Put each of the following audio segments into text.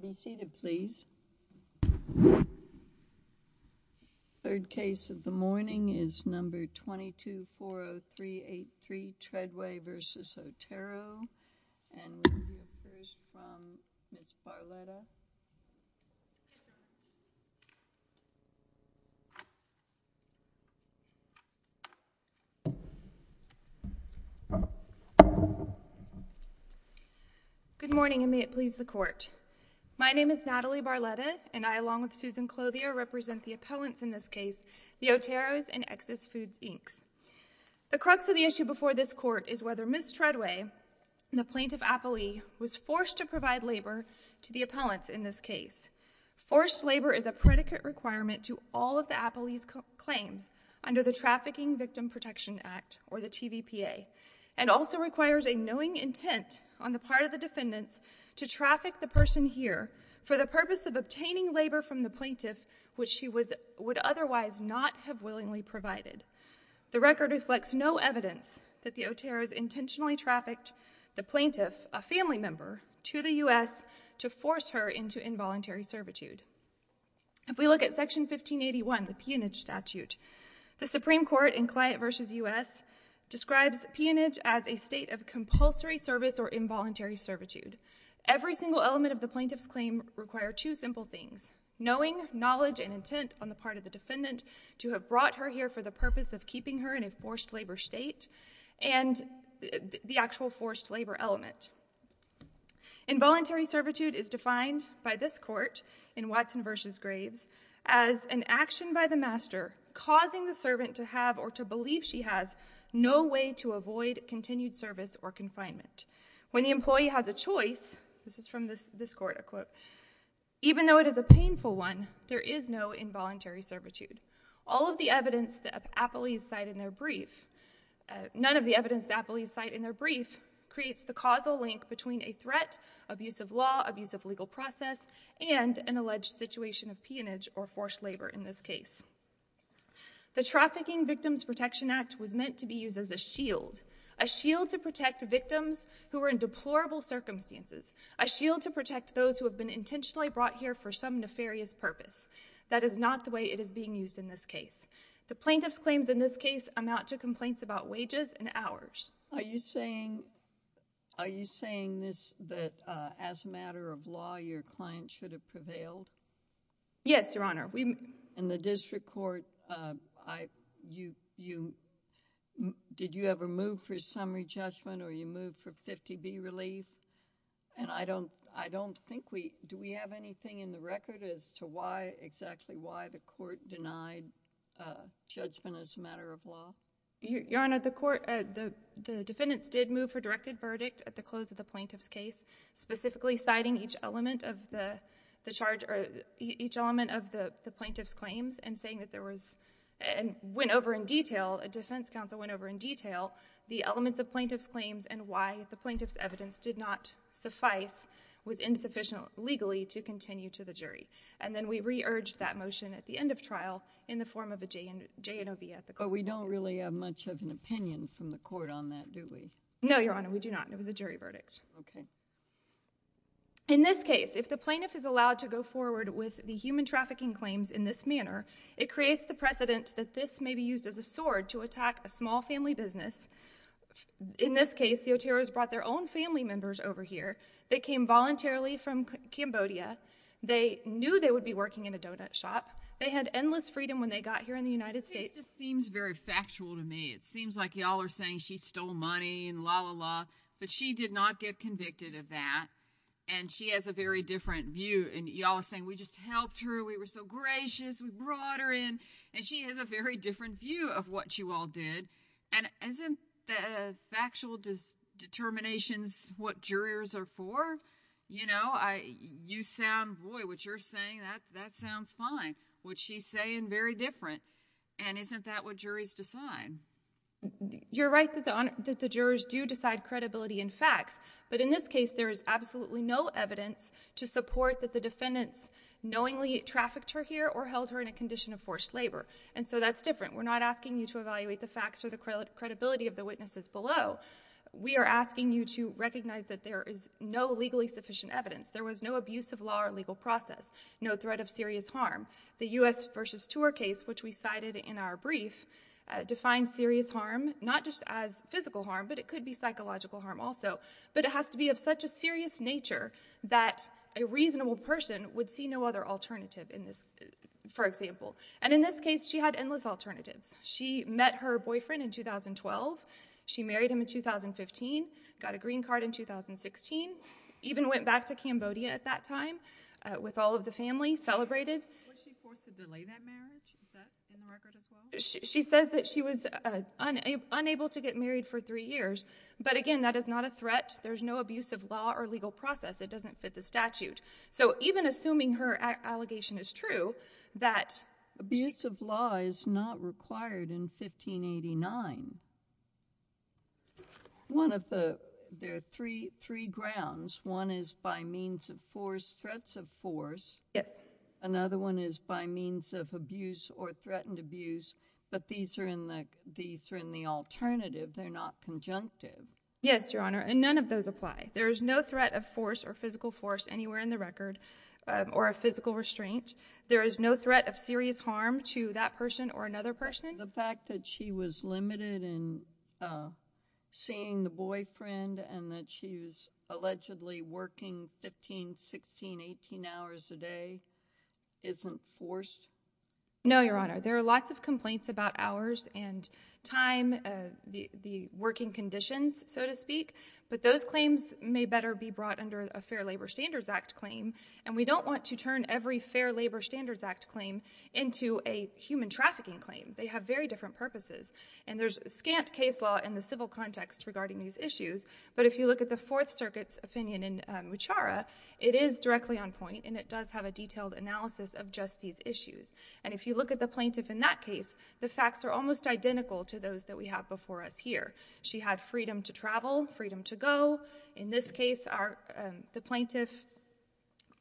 Be seated please. Third case of the morning is number 2240383 Treadway v. Otero and we will hear first from Ms. Barletta. Good morning and may it please the court. My name is Natalie Barletta and I, along with Susan Clothier, represent the appellants in this case, the Oteros and Excess Foods, Inc. The crux of the issue before this court is whether Ms. Treadway, the plaintiff appellee, was forced to provide labor to the appellants in this case. Forced labor is a predicate requirement to all of the appellee's claims under the Trafficking Victim Protection Act, or the TVPA, and also requires a knowing intent on the part of the defendants to traffic the person here for the purpose of obtaining labor from the plaintiff, which she would otherwise not have willingly provided. The record reflects no evidence that the Oteros intentionally trafficked the plaintiff, a family member, to the U.S. to force her into involuntary servitude. If we look at Section 1581, the Peonage Statute, the Supreme Court in Client v. U.S. describes peonage as a state of compulsory service or involuntary servitude. Every single element of the plaintiff's claim requires two simple things, knowing, knowledge, and intent on the part of the defendant to have brought her here for the purpose of keeping her in a forced labor state, and the actual forced labor element. Involuntary servitude is defined by this court in Watson v. Graves as an action by the master causing the servant to have or to believe she has no way to avoid continued service or confinement. When the employee has a choice, this is from this court, I quote, even though it is a painful one, there is no involuntary servitude. All of the evidence that police cite in their brief, none of the evidence that police cite in their brief, creates the causal link between a threat, abusive law, abusive legal process, and an alleged situation of peonage or forced labor in this case. The Trafficking Victims Protection Act was meant to be used as a shield, a shield to protect victims who are in deplorable circumstances, a shield to protect those who have been intentionally brought here for some nefarious purpose. That is not the way it is being used in this case. The plaintiff's claims in this case amount to complaints about wages and hours. Are you saying this that as a matter of law your client should have prevailed? Yes, Your Honor. In the district court, did you ever move for summary judgment or you moved for 50B relief? And I don't think we, do we have anything in the record as to why, exactly why the court denied judgment as a matter of law? Your Honor, the court, the defendants did move for directed verdict at the close of the plaintiff's case, specifically citing each element of the charge, each element of the plaintiff's claims and saying that there was, and went over in detail, a defense counsel went over in detail the elements of plaintiff's claims and why the plaintiff's evidence did not suffice, was insufficient legally to continue to the jury. And then we re-urged that motion at the end of trial in the form of a J&OB at the court. But we don't really have much of an opinion from the court on that, do we? No, Your Honor, we do not. It was a jury verdict. Okay. In this case, if the plaintiff is allowed to go forward with the human trafficking claims in this manner, it creates the precedent that this may be used as a sword to attack a small family business. In this case, the Oteros brought their own family members over here. They came voluntarily from Cambodia. They knew they would be working in a donut shop. They had endless freedom when they got here in the United States. This just seems very factual to me. It seems like y'all are saying she stole money and la, la, la. But she did not get convicted of that. And she has a very different view. And y'all are saying, we just helped her. We were so gracious. We brought her in. And she has a very different view of what you all did. And isn't the factual determinations what jurors are for? You know, you sound, boy, what you're saying, that sounds fine. What she's saying, very different. And isn't that what juries decide? You're right that the jurors do decide credibility in facts. But in this case, there is absolutely no evidence to support that the defendants knowingly trafficked her here or held her in a condition of forced labor. And so that's different. We're not asking you to evaluate the facts or the credibility of the witnesses below. We are asking you to recognize that there is no legally sufficient evidence. There was no abuse of law or legal process, no threat of serious harm. The U.S. versus tour case, which we cited in our brief, defined serious harm not just as physical harm, but it could be psychological harm also. But it has to be of such a serious nature that a reasonable person would see no other alternative, for example. And in this case, she had endless alternatives. She met her boyfriend in 2012. She married him in 2015. Got a green card in 2016. Even went back to Cambodia at that time with all of the family, celebrated. Was she forced to delay that marriage? Is that in the record as well? She says that she was unable to get married for three years. But, again, that is not a threat. There's no abuse of law or legal process. It doesn't fit the statute. So even assuming her allegation is true, that abuse of law is not required in 1589. There are three grounds. One is by means of force, threats of force. Yes. Another one is by means of abuse or threatened abuse. But these are in the alternative. They're not conjunctive. Yes, Your Honor. And none of those apply. There is no threat of force or physical force anywhere in the record or of physical restraint. There is no threat of serious harm to that person or another person. The fact that she was limited in seeing the boyfriend and that she was allegedly working 15, 16, 18 hours a day isn't forced? No, Your Honor. There are lots of complaints about hours and time, the working conditions, so to speak. But those claims may better be brought under a Fair Labor Standards Act claim. And we don't want to turn every Fair Labor Standards Act claim into a human trafficking claim. They have very different purposes. And there's scant case law in the civil context regarding these issues. But if you look at the Fourth Circuit's opinion in Muchara, it is directly on point, and it does have a detailed analysis of just these issues. And if you look at the plaintiff in that case, the facts are almost identical to those that we have before us here. She had freedom to travel, freedom to go. In this case, the plaintiff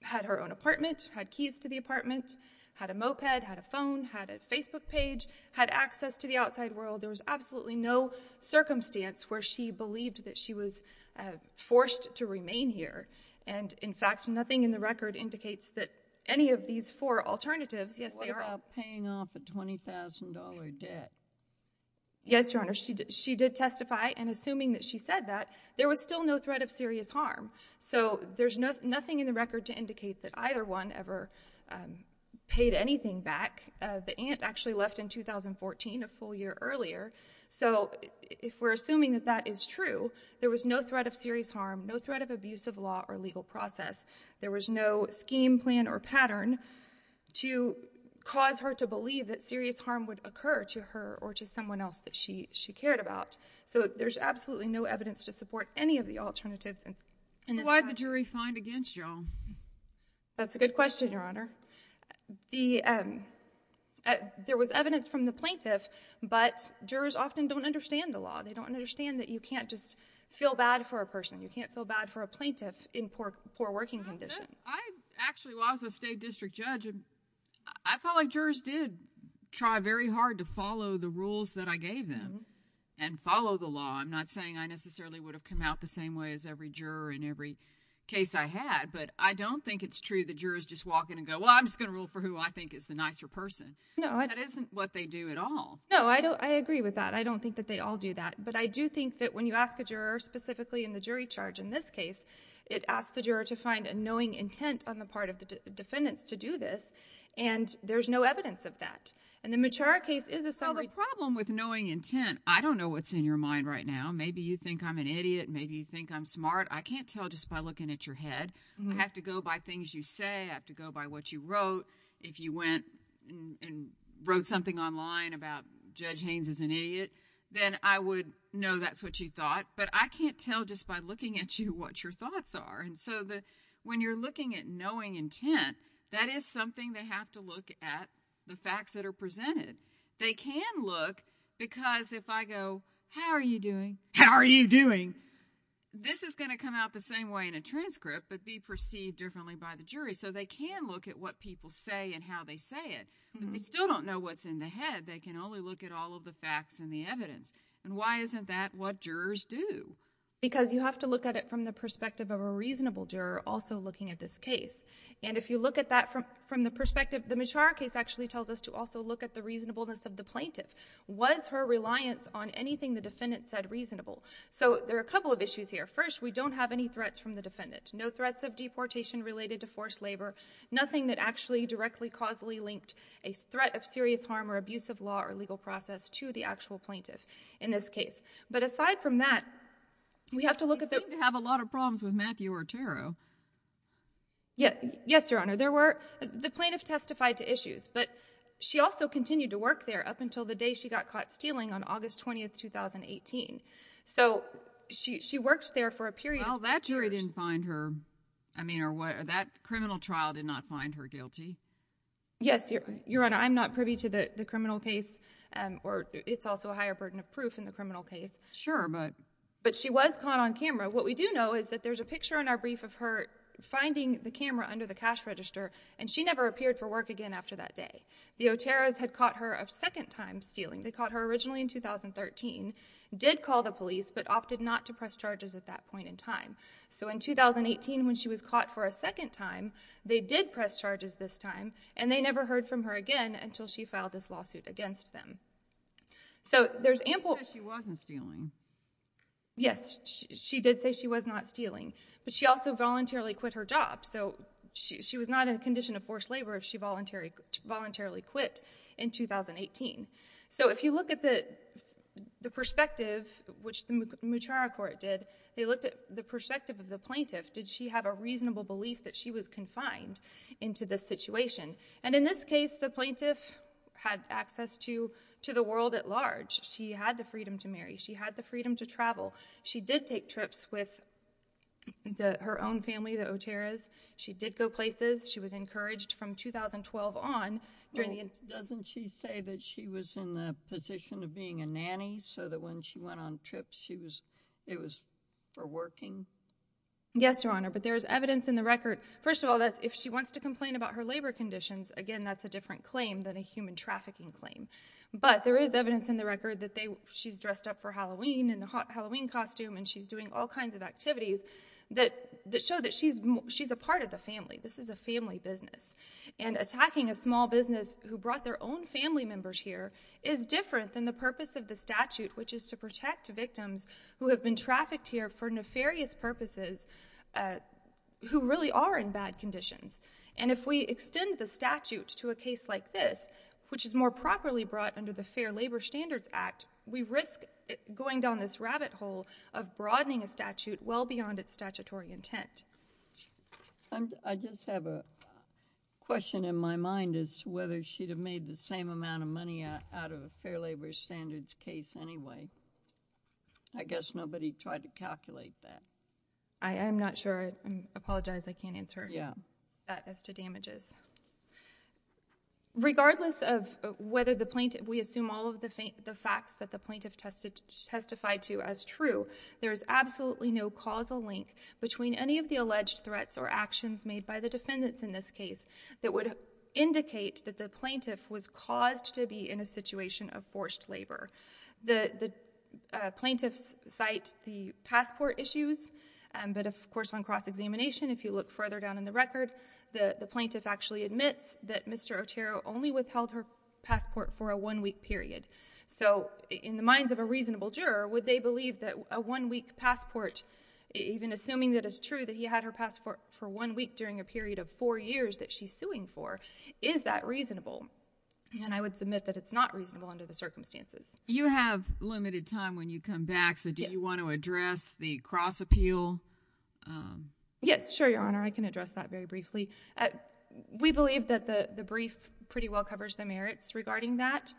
had her own apartment, had keys to the apartment, had a moped, had a phone, had a Facebook page, had access to the outside world. There was absolutely no circumstance where she believed that she was forced to remain here. And, in fact, nothing in the record indicates that any of these four alternatives. What about paying off a $20,000 debt? Yes, Your Honor. She did testify, and assuming that she said that, there was still no threat of serious harm. So there's nothing in the record to indicate that either one ever paid anything back. The aunt actually left in 2014, a full year earlier. So if we're assuming that that is true, there was no threat of serious harm, no threat of abuse of law or legal process. There was no scheme, plan, or pattern to cause her to believe that serious harm would occur to her or to someone else that she cared about. So there's absolutely no evidence to support any of the alternatives. So what did the jury find against you all? That's a good question, Your Honor. There was evidence from the plaintiff, but jurors often don't understand the law. They don't understand that you can't just feel bad for a person. You can't feel bad for a plaintiff in poor working conditions. Actually, while I was a state district judge, I felt like jurors did try very hard to follow the rules that I gave them and follow the law. I'm not saying I necessarily would have come out the same way as every juror in every case I had, but I don't think it's true that jurors just walk in and go, well, I'm just going to rule for who I think is the nicer person. That isn't what they do at all. No, I agree with that. I don't think that they all do that. But I do think that when you ask a juror, specifically in the jury charge in this case, it asks the juror to find a knowing intent on the part of the defendants to do this, and there's no evidence of that. And the Matura case is a summary. Well, the problem with knowing intent, I don't know what's in your mind right now. Maybe you think I'm an idiot. Maybe you think I'm smart. I can't tell just by looking at your head. I have to go by things you say. I have to go by what you wrote. If you went and wrote something online about Judge Haynes is an idiot, then I would know that's what you thought. But I can't tell just by looking at you what your thoughts are. And so when you're looking at knowing intent, that is something they have to look at, the facts that are presented. They can look because if I go, how are you doing? How are you doing? This is going to come out the same way in a transcript but be perceived differently by the jury. So they can look at what people say and how they say it. But they still don't know what's in the head. They can only look at all of the facts and the evidence. And why isn't that what jurors do? Because you have to look at it from the perspective of a reasonable juror also looking at this case. And if you look at that from the perspective, the Machar case actually tells us to also look at the reasonableness of the plaintiff. Was her reliance on anything the defendant said reasonable? So there are a couple of issues here. First, we don't have any threats from the defendant, no threats of deportation related to forced labor, nothing that actually directly causally linked a threat of serious harm or abuse of law or legal process to the actual plaintiff in this case. But aside from that, we have to look at the... Yes, Your Honor. The plaintiff testified to issues, but she also continued to work there up until the day she got caught stealing on August 20, 2018. So she worked there for a period of... Well, that jury didn't find her... I mean, that criminal trial did not find her guilty. Yes, Your Honor. I'm not privy to the criminal case, or it's also a higher burden of proof in the criminal case. Sure, but... But she was caught on camera. What we do know is that there's a picture in our brief of her finding the camera under the cash register, and she never appeared for work again after that day. The Oteros had caught her a second time stealing. They caught her originally in 2013, did call the police, but opted not to press charges at that point in time. So in 2018, when she was caught for a second time, they did press charges this time, and they never heard from her again until she filed this lawsuit against them. So there's ample... She said she wasn't stealing. Yes, she did say she was not stealing, but she also voluntarily quit her job. So she was not in a condition of forced labor if she voluntarily quit in 2018. So if you look at the perspective, which the Mutrara Court did, they looked at the perspective of the plaintiff. Did she have a reasonable belief that she was confined into this situation? And in this case, the plaintiff had access to the world at large. She had the freedom to marry. She had the freedom to travel. She did take trips with her own family, the Oteros. She did go places. She was encouraged from 2012 on. Doesn't she say that she was in the position of being a nanny so that when she went on trips, it was for working? Yes, Your Honor, but there's evidence in the record. First of all, if she wants to complain about her labor conditions, again, that's a different claim than a human trafficking claim. But there is evidence in the record that she's dressed up for Halloween in a Halloween costume and she's doing all kinds of activities that show that she's a part of the family. This is a family business. And attacking a small business who brought their own family members here is different than the purpose of the statute, which is to protect victims who have been trafficked here for nefarious purposes who really are in bad conditions. And if we extend the statute to a case like this, which is more properly brought under the Fair Labor Standards Act, we risk going down this rabbit hole of broadening a statute well beyond its statutory intent. I just have a question in my mind as to whether she'd have made the same amount of money out of a Fair Labor Standards case anyway. I guess nobody tried to calculate that. I'm not sure. I apologize. I can't answer that as to damages. Regardless of whether the plaintiff... We assume all of the facts that the plaintiff testified to as true, there is absolutely no causal link between any of the alleged threats or actions made by the defendants in this case that would indicate that the plaintiff was caused to be in a situation of forced labor. The plaintiffs cite the passport issues, but of course on cross-examination, if you look further down in the record, the plaintiff actually admits that Mr. Otero only withheld her passport for a one-week period. So in the minds of a reasonable juror, would they believe that a one-week passport, even assuming that it's true that he had her passport for one week during a period of four years that she's suing for, is that reasonable? And I would submit that it's not reasonable under the circumstances. You have limited time when you come back, so do you want to address the cross-appeal? Yes, sure, Your Honor. I can address that very briefly. We believe that the brief pretty well covers the merits regarding that.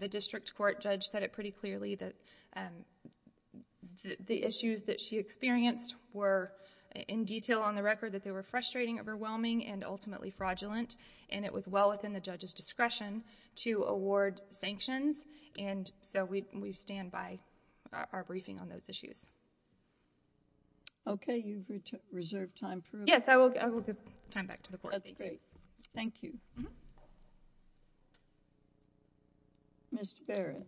The district court judge said it pretty clearly that the issues that she experienced were, in detail on the record, that they were frustrating, overwhelming, and ultimately fraudulent, and it was well within the judge's discretion to award sanctions, and so we stand by our briefing on those issues. Okay, you've reserved time for rebuttal. Yes, I will give time back to the court. That's great. Thank you. Mr. Barrett.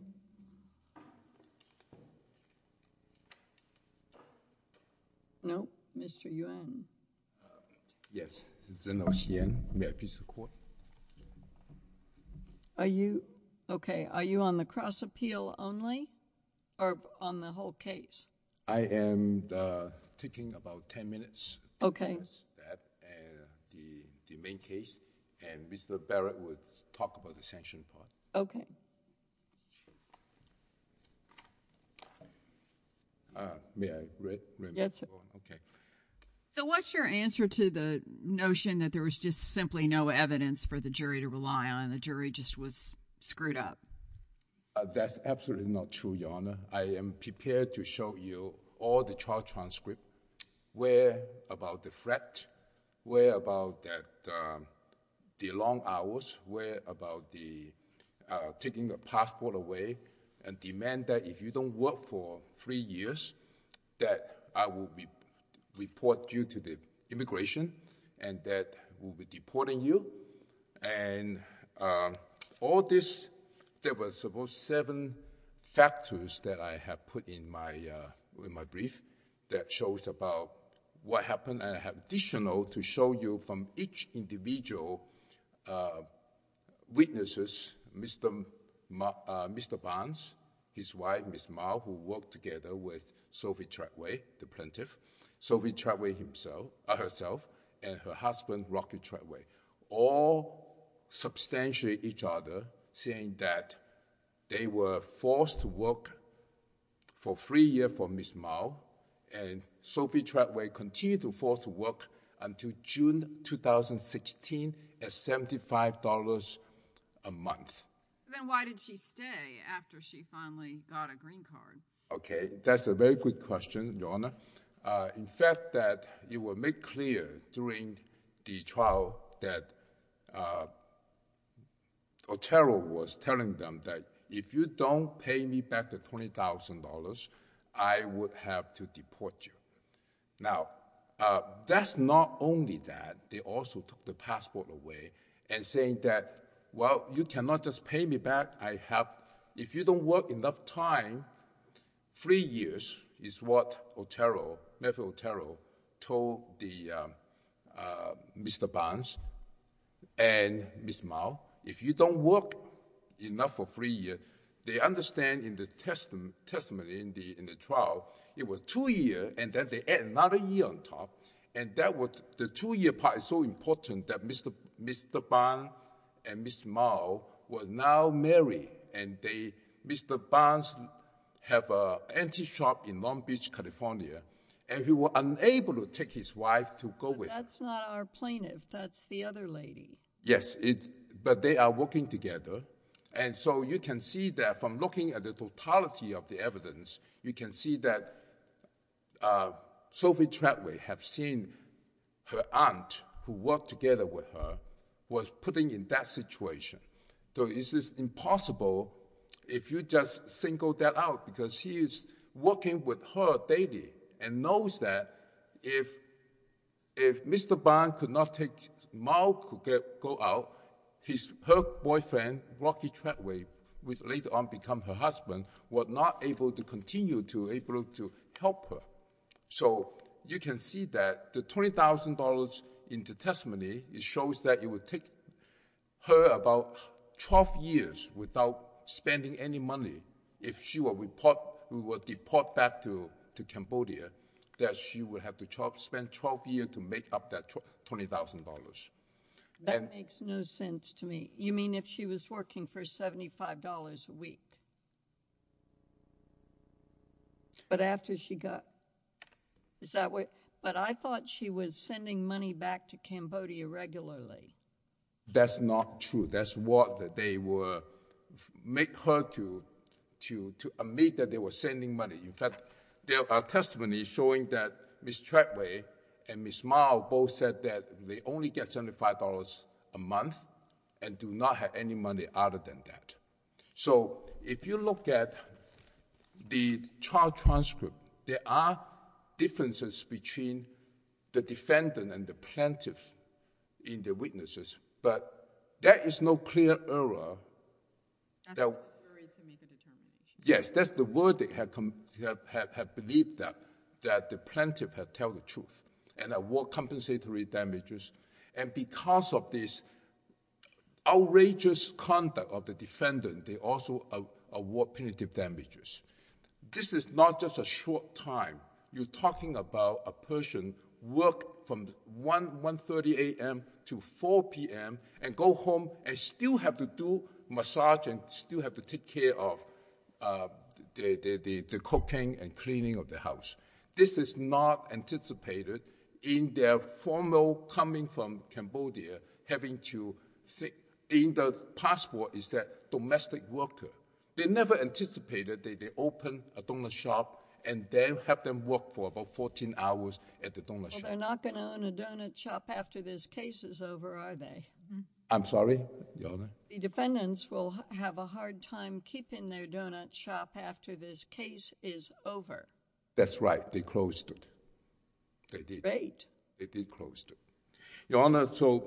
No. Mr. Yuan. Yes. This is Zen-Ou Hsien. May I please report? Are you... Okay. Are you on the cross-appeal only or on the whole case? I am taking about 10 minutes... Okay.... the main case, and Mr. Barrett will talk about the sanction part. Okay. May I read? Yes. Okay. So what's your answer to the notion that there was just simply no evidence for the jury to rely on and the jury just was screwed up? That's absolutely not true, Your Honor. I am prepared to show you all the trial transcripts, where about the threat, where about the long hours, where about taking your passport away and demand that if you don't work for three years, that I will report you to the immigration and that we'll be deporting you. And all this, there was about seven factors that I have put in my brief that shows about what happened. I have additional to show you from each individual witnesses, Mr. Barnes, his wife, Ms. Mao, who worked together with Sophie Treadway, the plaintiff, Sophie Treadway herself, and her husband, Rocky Treadway. All substantiate each other, saying that they were forced to work for three years for Ms. Mao and Sophie Treadway continued to be forced to work until June 2016 at $75 a month. Then why did she stay after she finally got a green card? Okay. That's a very good question, Your Honor. In fact, it was made clear during the trial that Otero was telling them that if you don't pay me back the $20,000, I would have to deport you. Now, that's not only that. They also took the passport away and saying that, well, you cannot just pay me back. If you don't work enough time, three years is what Otero told Mr. Barnes and Ms. Mao. If you don't work enough for three years, they understand in the testimony in the trial, it was two years, and then they add another year on top. The two-year part is so important that Mr. Barnes and Ms. Mao were now married, and Mr. Barnes have an antique shop in Long Beach, California, and he was unable to take his wife to go with him. But that's not our plaintiff. That's the other lady. Yes, but they are working together. So you can see that from looking at the totality of the evidence, you can see that Sophie Treadway had seen her aunt, who worked together with her, was put in that situation. So it is impossible if you just single that out, because she is working with her daily and knows that if Mr. Barnes could not take Mao to go out, her boyfriend, Rocky Treadway, who would later on become her husband, were not able to continue to be able to help her. So you can see that the $20,000 in the testimony, it shows that it would take her about 12 years without spending any money. If she were to deport back to Cambodia, that she would have to spend 12 years to make up that $20,000. That makes no sense to me. You mean if she was working for $75 a week? But I thought she was sending money back to Cambodia regularly. That's not true. That's what they would make her to admit that they were sending money. In fact, there are testimonies showing that Ms. Treadway and Ms. Mao both said that they only get $75 a month and do not have any money other than that. So if you look at the trial transcript, there are differences between the defendant and the plaintiff in their witnesses, but there is no clear error. Yes, that's the verdict. They have believed that the plaintiff had told the truth. And they award compensatory damages. And because of this outrageous conduct of the defendant, they also award punitive damages. This is not just a short time. You're talking about a person work from 1.30 a.m. to 4 p.m. and go home and still have to do massage and still have to take care of the cooking and cleaning of the house. This is not anticipated in their formal coming from Cambodia, having to sit in the passport as a domestic worker. They never anticipated that they open a donut shop and then have them work for about 14 hours at the donut shop. Well, they're not going to own a donut shop after this case is over, are they? I'm sorry? Your Honor? The defendants will have a hard time keeping their donut shop after this case is over. That's right. They closed it. They did. Great. They did close it. Your Honor, so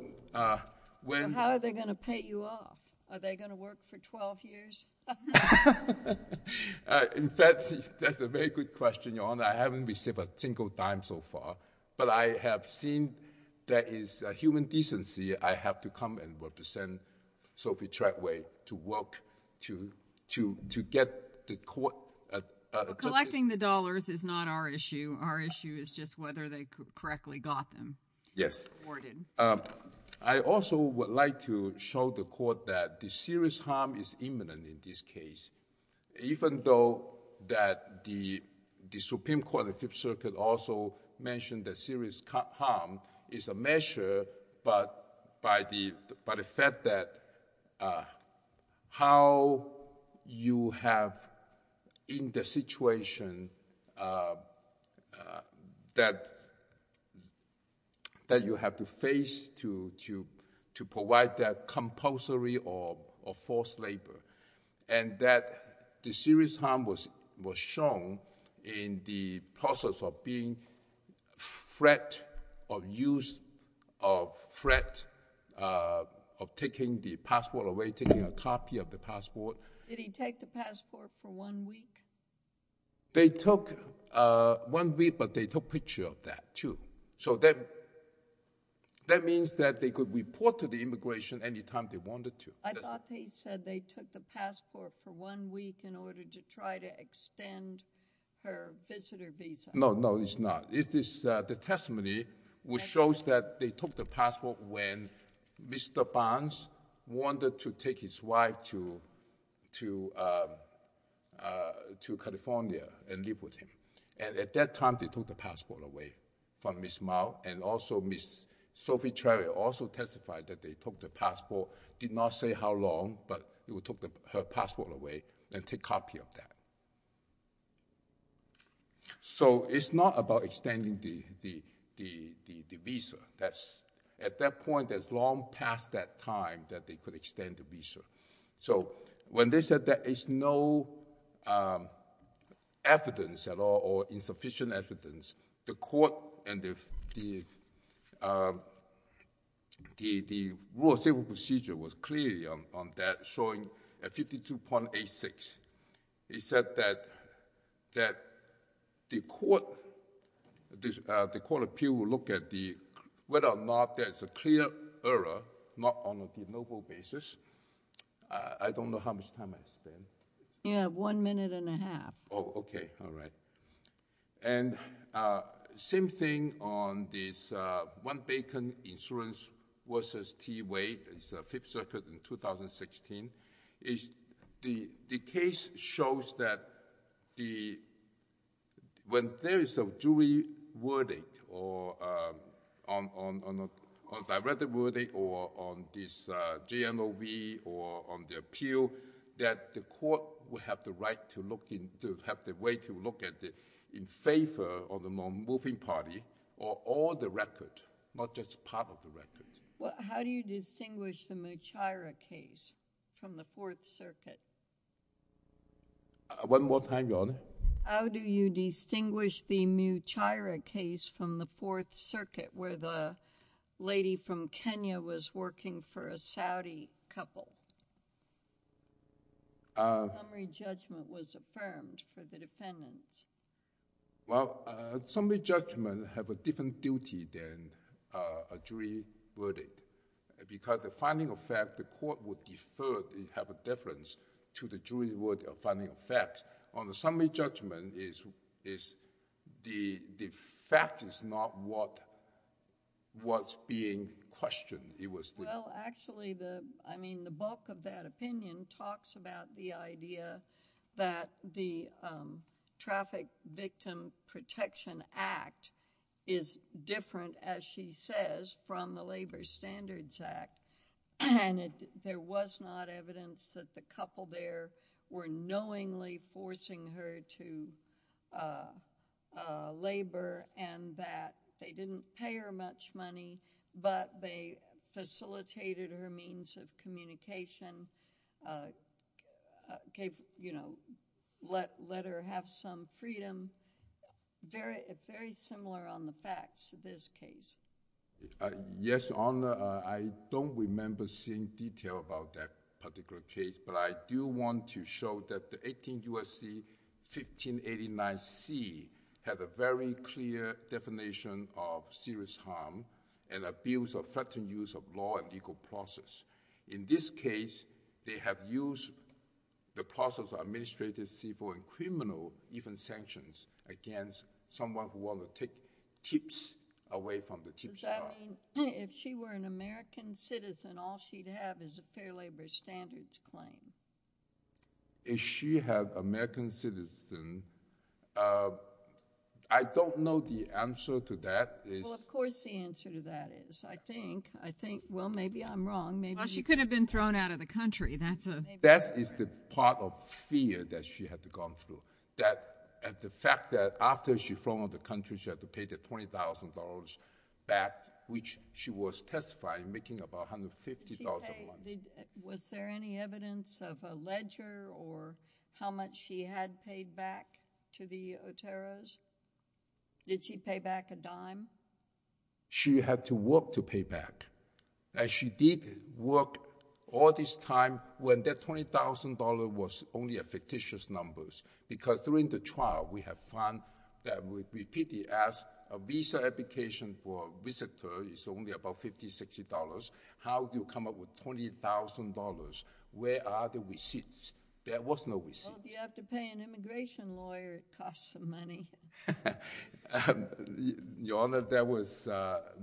when... How are they going to pay you off? Are they going to work for 12 years? In fact, that's a very good question, Your Honor. I haven't received a single dime so far. But I have seen there is human decency. I have to come and represent Sophie Treadway to work to get the court... Collecting the dollars is not our issue. Our issue is just whether they correctly got them. Yes. Awarded. I also would like to show the court that the serious harm is imminent in this case. Even though that the Supreme Court, the Fifth Circuit, also mentioned that serious harm is a measure, but by the fact that how you have in the situation that you have to face to provide that compulsory or forced labor, and that the serious harm was shown in the process of being threat, of use of threat, of taking the passport away, taking a copy of the passport. Did he take the passport for one week? They took one week, but they took picture of that, too. So that means that they could report to the immigration any time they wanted to. I thought they said they took the passport for one week in order to try to extend her visitor visa. No, no, it's not. It is the testimony which shows that they took the passport when Mr. Barnes wanted to take his wife to California and live with him. And at that time, they took the passport away from Ms. Mao. And also, Ms. Sophie Cherry also testified that they took the passport. Did not say how long, but they took her passport away and took a copy of that. So it's not about extending the visa. At that point, it's long past that time that they could extend the visa. So when they said there is no evidence at all or insufficient evidence, the court and the rule of civil procedure was clearly on that, showing 52.86. It said that the court appeal will look at whether or not there is a clear error, not on a de novo basis. I don't know how much time I spent. You have one minute and a half. Oh, OK. All right. And same thing on this one-bacon insurance versus T-way. It's Fifth Circuit in 2016. The case shows that when there is a jury verdict or a direct verdict or on this de novo or on the appeal, that the court would have the right to look in... to have the way to look at it in favor of the non-moving party or all the record, not just part of the record. How do you distinguish the Muchaira case from the Fourth Circuit? One more time, Your Honor. How do you distinguish the Muchaira case from the Fourth Circuit, where the lady from Kenya was working for a Saudi couple? The summary judgment was affirmed for the defendants. Well, summary judgments have a different duty than a jury verdict. Because the finding of fact, the court would defer to have a deference to the jury verdict of finding of fact. On the summary judgment, the fact is not what was being questioned. Well, actually, the bulk of that opinion talks about the idea that the Traffic Victim Protection Act is different, as she says, from the Labor Standards Act. There was not evidence that the couple there were knowingly forcing her to labor and that they didn't pay her much money, but they facilitated her means of communication, let her have some freedom, very similar on the facts of this case. Yes, Your Honor, I don't remember seeing detail about that particular case, but I do want to show that the 18 U.S.C. 1589C had a very clear definition of serious harm and abuse or threatening use of law and legal process. Does that mean if she were an American citizen, all she'd have is a fair labor standards claim? If she had American citizen, I don't know the answer to that. Well, of course, the answer to that is, I think, well, maybe I'm wrong. Well, she could have been thrown out of the country. That is the part of fear that she had to go through. The fact that after she was thrown out of the country, she had to pay the $20,000 back, which she was testified making about $150,000 a month. Was there any evidence of a ledger or how much she had paid back to the Oteros? Did she pay back a dime? She had to work to pay back. And she did work all this time when that $20,000 was only a fictitious number, because during the trial, we have found that we repeatedly asked a visa application for a visitor is only about $50, $60. How do you come up with $20,000? Where are the receipts? There was no receipts. Well, if you have to pay an immigration lawyer, it costs some money. Your Honor, there was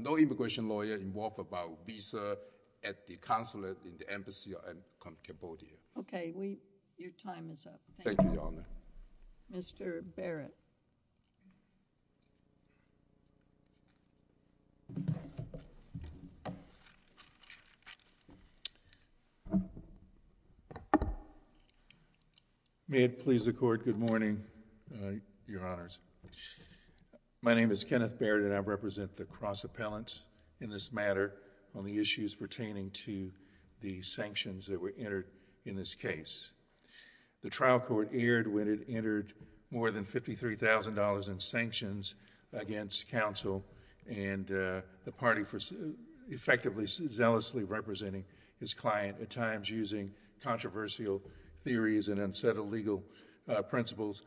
no immigration lawyer involved about visa at the consulate, in the embassy, or in Cambodia. Okay, your time is up. Thank you, Your Honor. Mr. Barrett. May it please the Court, good morning, Your Honor. My name is Kenneth Barrett and I represent the cross-appellants in this matter on the issues pertaining to the sanctions that were entered in this case. The trial court erred when it entered more than $53,000 in sanctions against counsel and the party for effectively, zealously representing his client, at times using controversial theories and unsettled legal principles,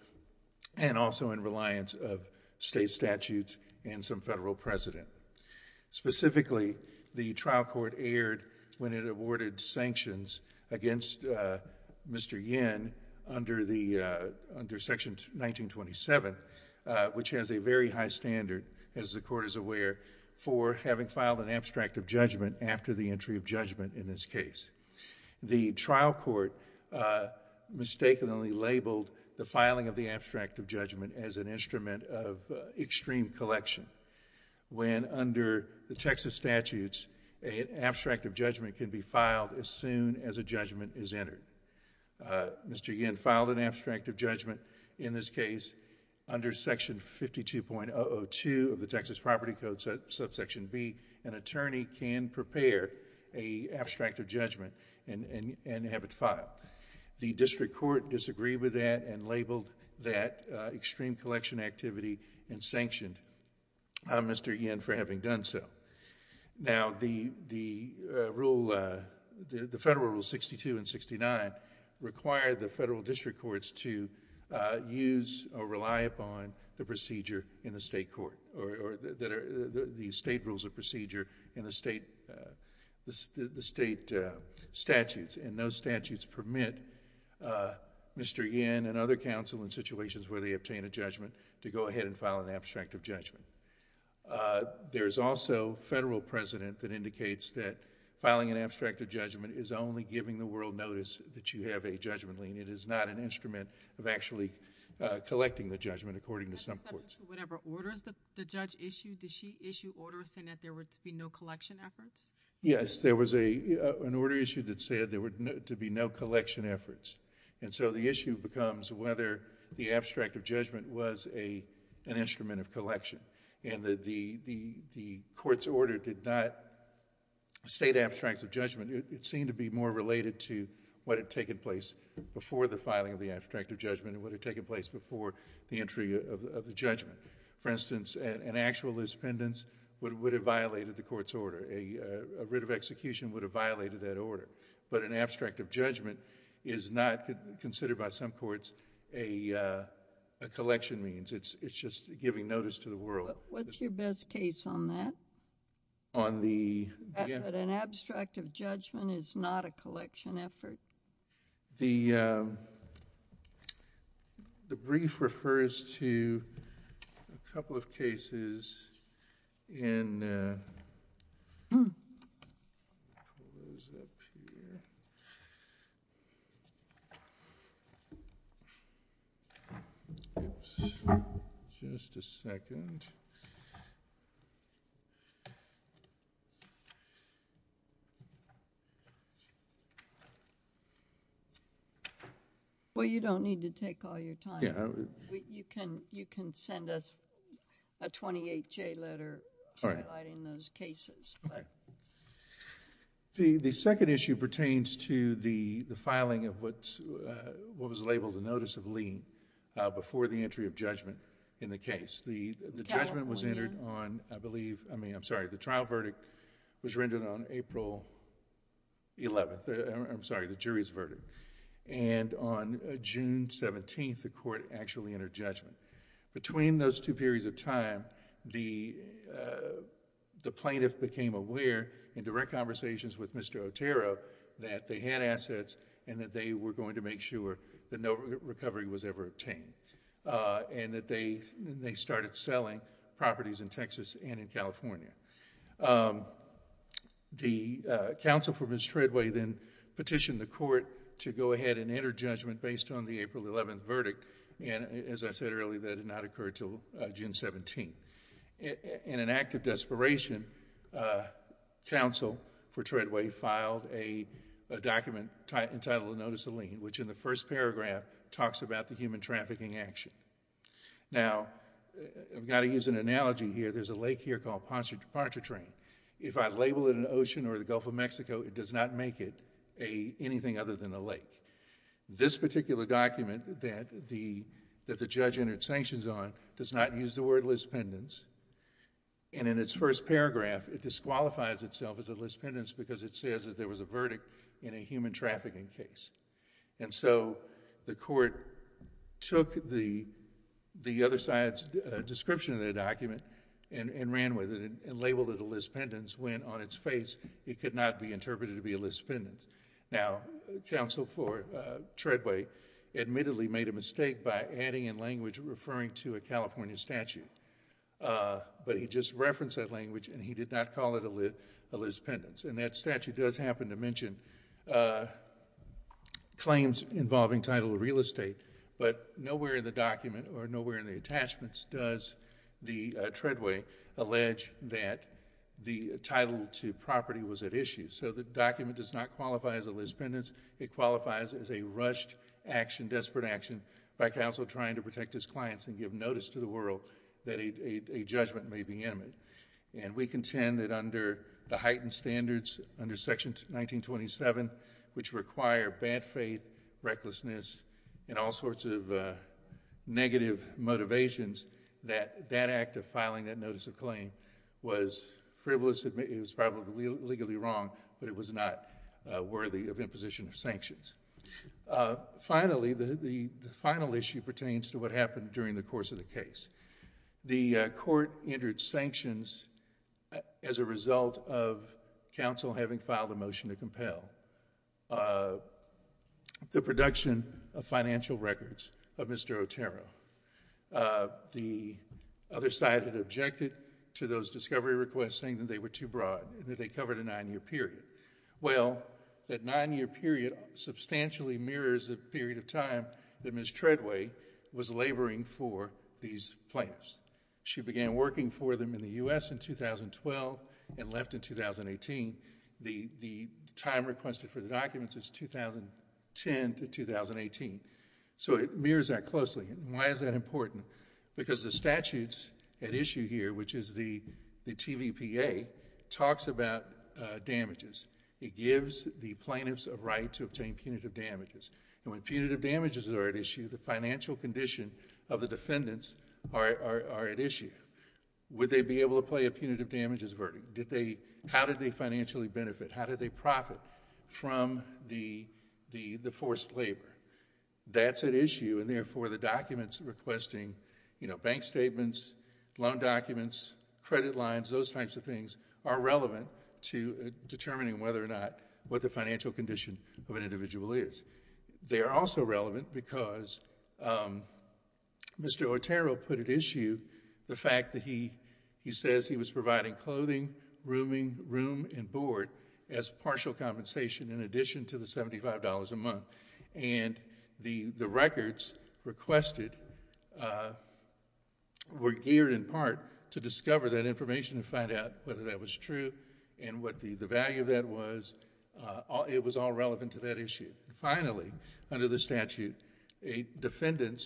and also in reliance of state statutes and some federal precedent. Specifically, the trial court erred when it awarded sanctions against Mr. Yin under Section 1927, which has a very high standard, as the Court is aware, for having filed an abstract of judgment after the entry of judgment in this case. The trial court mistakenly labeled the filing of the abstract of judgment as an instrument of extreme collection, when under the Texas statutes, an abstract of judgment can be filed as soon as a judgment is entered. Mr. Yin filed an abstract of judgment in this case under Section 52.002 of the Texas Property Code Subsection B. An attorney can prepare an abstract of judgment and have it filed. The district court disagreed with that and labeled that extreme collection activity and sanctioned Mr. Yin for having done so. Now, the Federal Rule 62 and 69 require the federal district courts to use or rely upon the state rules of procedure in the state statutes. Those statutes permit Mr. Yin and other counsel in situations where they obtain a judgment to go ahead and file an abstract of judgment. There's also federal precedent that indicates that filing an abstract of judgment is only giving the world notice that you have a judgment lien. It is not an instrument of actually collecting the judgment according to some courts. Whatever order the judge issued, did she issue orders saying that there were to be no collection efforts? Yes. There was an order issued that said there were to be no collection efforts. The issue becomes whether the abstract of judgment was an instrument of collection. The court's order did not state abstracts of judgment. It seemed to be more related to what had taken place before the filing of the abstract of judgment and what had taken place before the entry of the judgment. For instance, an actual dispendence would have violated the court's order. An abstract of judgment is not considered by some courts a collection means. It's just giving notice to the world. What's your best case on that? On the... An abstract of judgment is not a collection effort. The brief refers to a couple of cases in... Just a second. Well, you don't need to take all your time. You can send us a 28-J letter highlighting those cases. The second issue pertains to the filing of what was labeled a notice of lien before the entry of judgment in the case. The trial verdict was rendered on April 11th. I'm sorry, the jury's verdict. On June 17th, the court actually entered judgment. Between those two periods of time, the plaintiff became aware, in direct conversations with Mr. Otero, that they had assets and that they were going to make sure that no recovery was ever obtained. The counsel for Ms. Treadway then petitioned the court to go ahead and enter judgment based on the April 11th verdict. As I said earlier, that did not occur until June 17th. In an act of desperation, counsel for Treadway filed a document entitled Notice of Lien, which in the first paragraph talks about the human trafficking action. Now, I've got to use an analogy here. There's a lake here called Pontchartrain. If I label it an ocean or the Gulf of Mexico, it does not make it anything other than a lake. This particular document that the judge entered sanctions on does not use the word lispendence. In its first paragraph, it disqualifies itself as a lispendence because it says that there was a verdict in a human trafficking case. The court took the other side's description of the document and ran with it and labeled it a lispendence when on its face it could not be interpreted to be a lispendence. Now, counsel for Treadway admittedly made a mistake by adding in language referring to a California statute, but he just referenced that language and he did not call it a lispendence. And that statute does happen to mention claims involving title of real estate, but nowhere in the document or nowhere in the attachments does the Treadway allege that the title to property was at issue. So the document does not qualify as a lispendence. It qualifies as a rushed action, desperate action by counsel trying to protect his clients and give notice to the world that a judgment may be imminent. And we contend that under the heightened standards under Section 1927, which require bad faith, recklessness, and all sorts of negative motivations, that that act of filing that notice of claim was frivolous. It was probably legally wrong, but it was not worthy of imposition of sanctions. Finally, the final issue pertains to what happened during the course of the case. The court entered sanctions as a result of counsel having filed a motion to compel the production of financial records of Mr. Otero. The other side had objected to those discovery requests saying that they were too broad and that they covered a nine-year period. Well, that nine-year period substantially mirrors the period of time that Ms. Treadway was laboring for these plaintiffs. She began working for them in the U.S. in 2012 and left in 2018. The time requested for the documents is 2010 to 2018, so it mirrors that closely. Why is that important? Because the statutes at issue here, which is the TVPA, talks about damages. It gives the plaintiffs a right to obtain punitive damages. When punitive damages are at issue, the financial condition of the defendants are at issue. Would they be able to play a punitive damages verdict? How did they financially benefit? How did they profit from the forced labor? That's at issue, and therefore the documents requesting bank statements, loan documents, credit lines, those types of things, are relevant to determining whether or not what the financial condition of an individual is. They are also relevant because Mr. Otero put at issue the fact that he says he was providing clothing, rooming, room, and board as partial compensation in addition to the $75 a month. The records requested were geared in part to discover that information and find out whether that was true and what the value of that was. It was all relevant to that issue. Finally, under the statute, a defendant,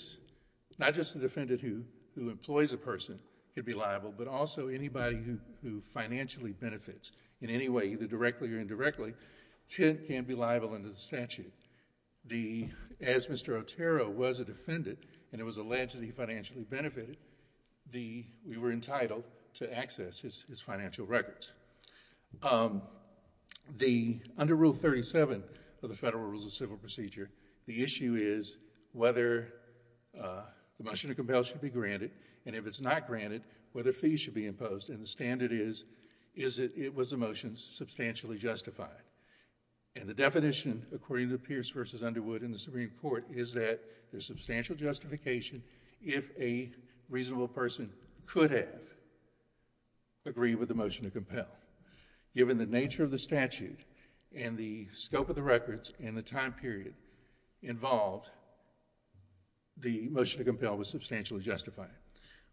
not just the defendant who employs a person, could be liable, but also anybody who financially benefits in any way, either directly or indirectly, can be liable under the statute. As Mr. Otero was a defendant and it was alleged that he financially benefited, we were entitled to access his financial records. Under Rule 37 of the Federal Rules of Civil Procedure, the issue is whether the motion to compel should be granted, and if it's not granted, whether fees should be imposed. The standard is that it was a motion substantially justified. The definition, according to Pierce v. Underwood in the Supreme Court, is that there's substantial justification if a reasonable person could have agreed with the motion to compel. Given the nature of the statute and the scope of the records and the time period involved, the motion to compel was substantially justified.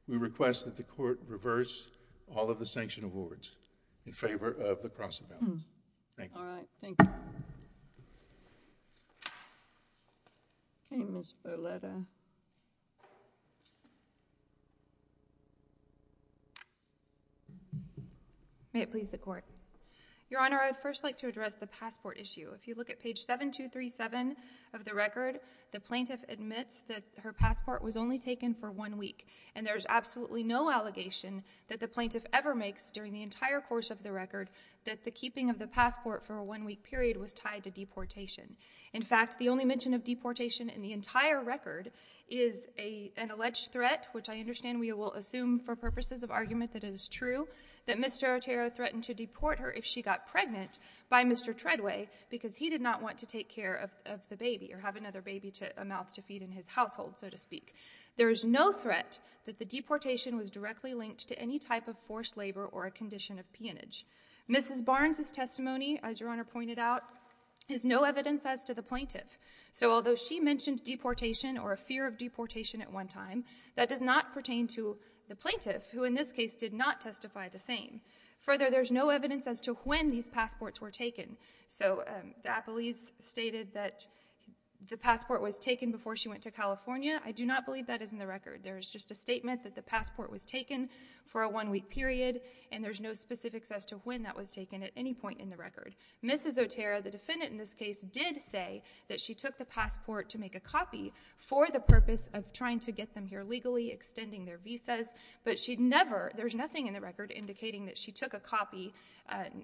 We request that the Court reverse all of the sanction awards in favor of the cross-evaluates. Thank you. All right. Thank you. Okay, Ms. Boletta. May it please the Court. Your Honor, I would first like to address the passport issue. If you look at page 7237 of the record, the plaintiff admits that her passport was only taken for one week. And there's absolutely no allegation that the plaintiff ever makes during the entire course of the record that the keeping of the passport for a one-week period was tied to deportation. In fact, the only mention of deportation in the entire record is an alleged threat, which I understand we will assume for purposes of argument that it is true, that Mr. Otero threatened to deport her if she got pregnant by Mr. Treadway because he did not want to take care of the baby or have another baby, a mouth to feed in his household, so to speak. There is no threat that the deportation was directly linked to any type of forced labor or a condition of peonage. Mrs. Barnes' testimony, as Your Honor pointed out, is no evidence as to the plaintiff. So although she mentioned deportation or a fear of deportation at one time, that does not pertain to the plaintiff, who in this case did not testify the same. Further, there is no evidence as to when these passports were taken. So the appellees stated that the passport was taken before she went to California. I do not believe that is in the record. There is just a statement that the passport was taken for a one-week period, and there's no specifics as to when that was taken at any point in the record. Mrs. Otero, the defendant in this case, did say that she took the passport to make a copy for the purpose of trying to get them here legally, extending their visas, but she never—there's nothing in the record indicating that she took a copy.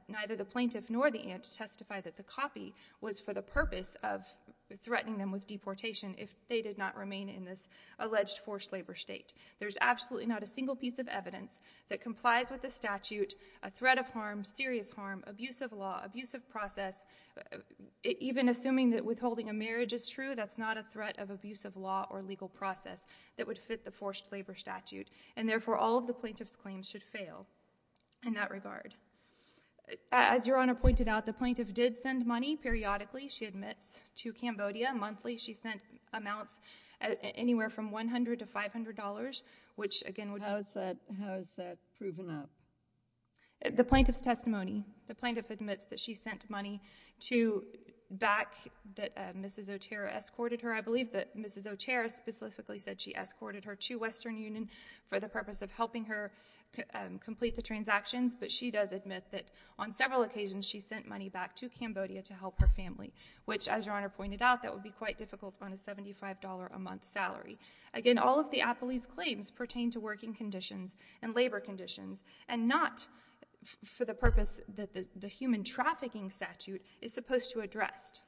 Neither the plaintiff nor the aunt testified that the copy was for the purpose of threatening them with deportation if they did not remain in this alleged forced labor state. There's absolutely not a single piece of evidence that complies with the statute, a threat of harm, serious harm, abusive law, abusive process. Even assuming that withholding a marriage is true, that's not a threat of abusive law or legal process that would fit the forced labor statute, and therefore all of the plaintiff's claims should fail in that regard. As Your Honor pointed out, the plaintiff did send money periodically, she admits, to Cambodia. Monthly, she sent amounts anywhere from $100 to $500, which again— How is that proven up? The plaintiff's testimony. The plaintiff admits that she sent money to—back that Mrs. Otero escorted her. I believe that Mrs. Otero specifically said she escorted her to Western Union for the purpose of helping her complete the transactions, but she does admit that on several occasions she sent money back to Cambodia to help her family, which, as Your Honor pointed out, that would be quite difficult on a $75 a month salary. Again, all of the appellee's claims pertain to working conditions and labor conditions, and not for the purpose that the human trafficking statute is supposed to address,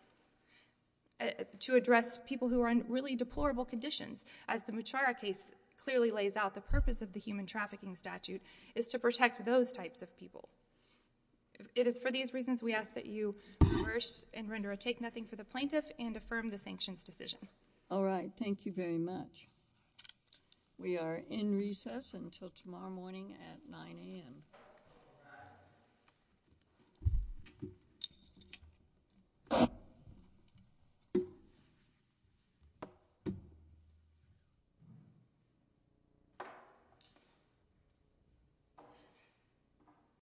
to address people who are in really deplorable conditions. As the Muchara case clearly lays out, the purpose of the human trafficking statute is to protect those types of people. It is for these reasons we ask that you reverse and render a take-nothing for the plaintiff and affirm the sanctions decision. All right. Thank you very much. We are in recess until tomorrow morning at 9 a.m.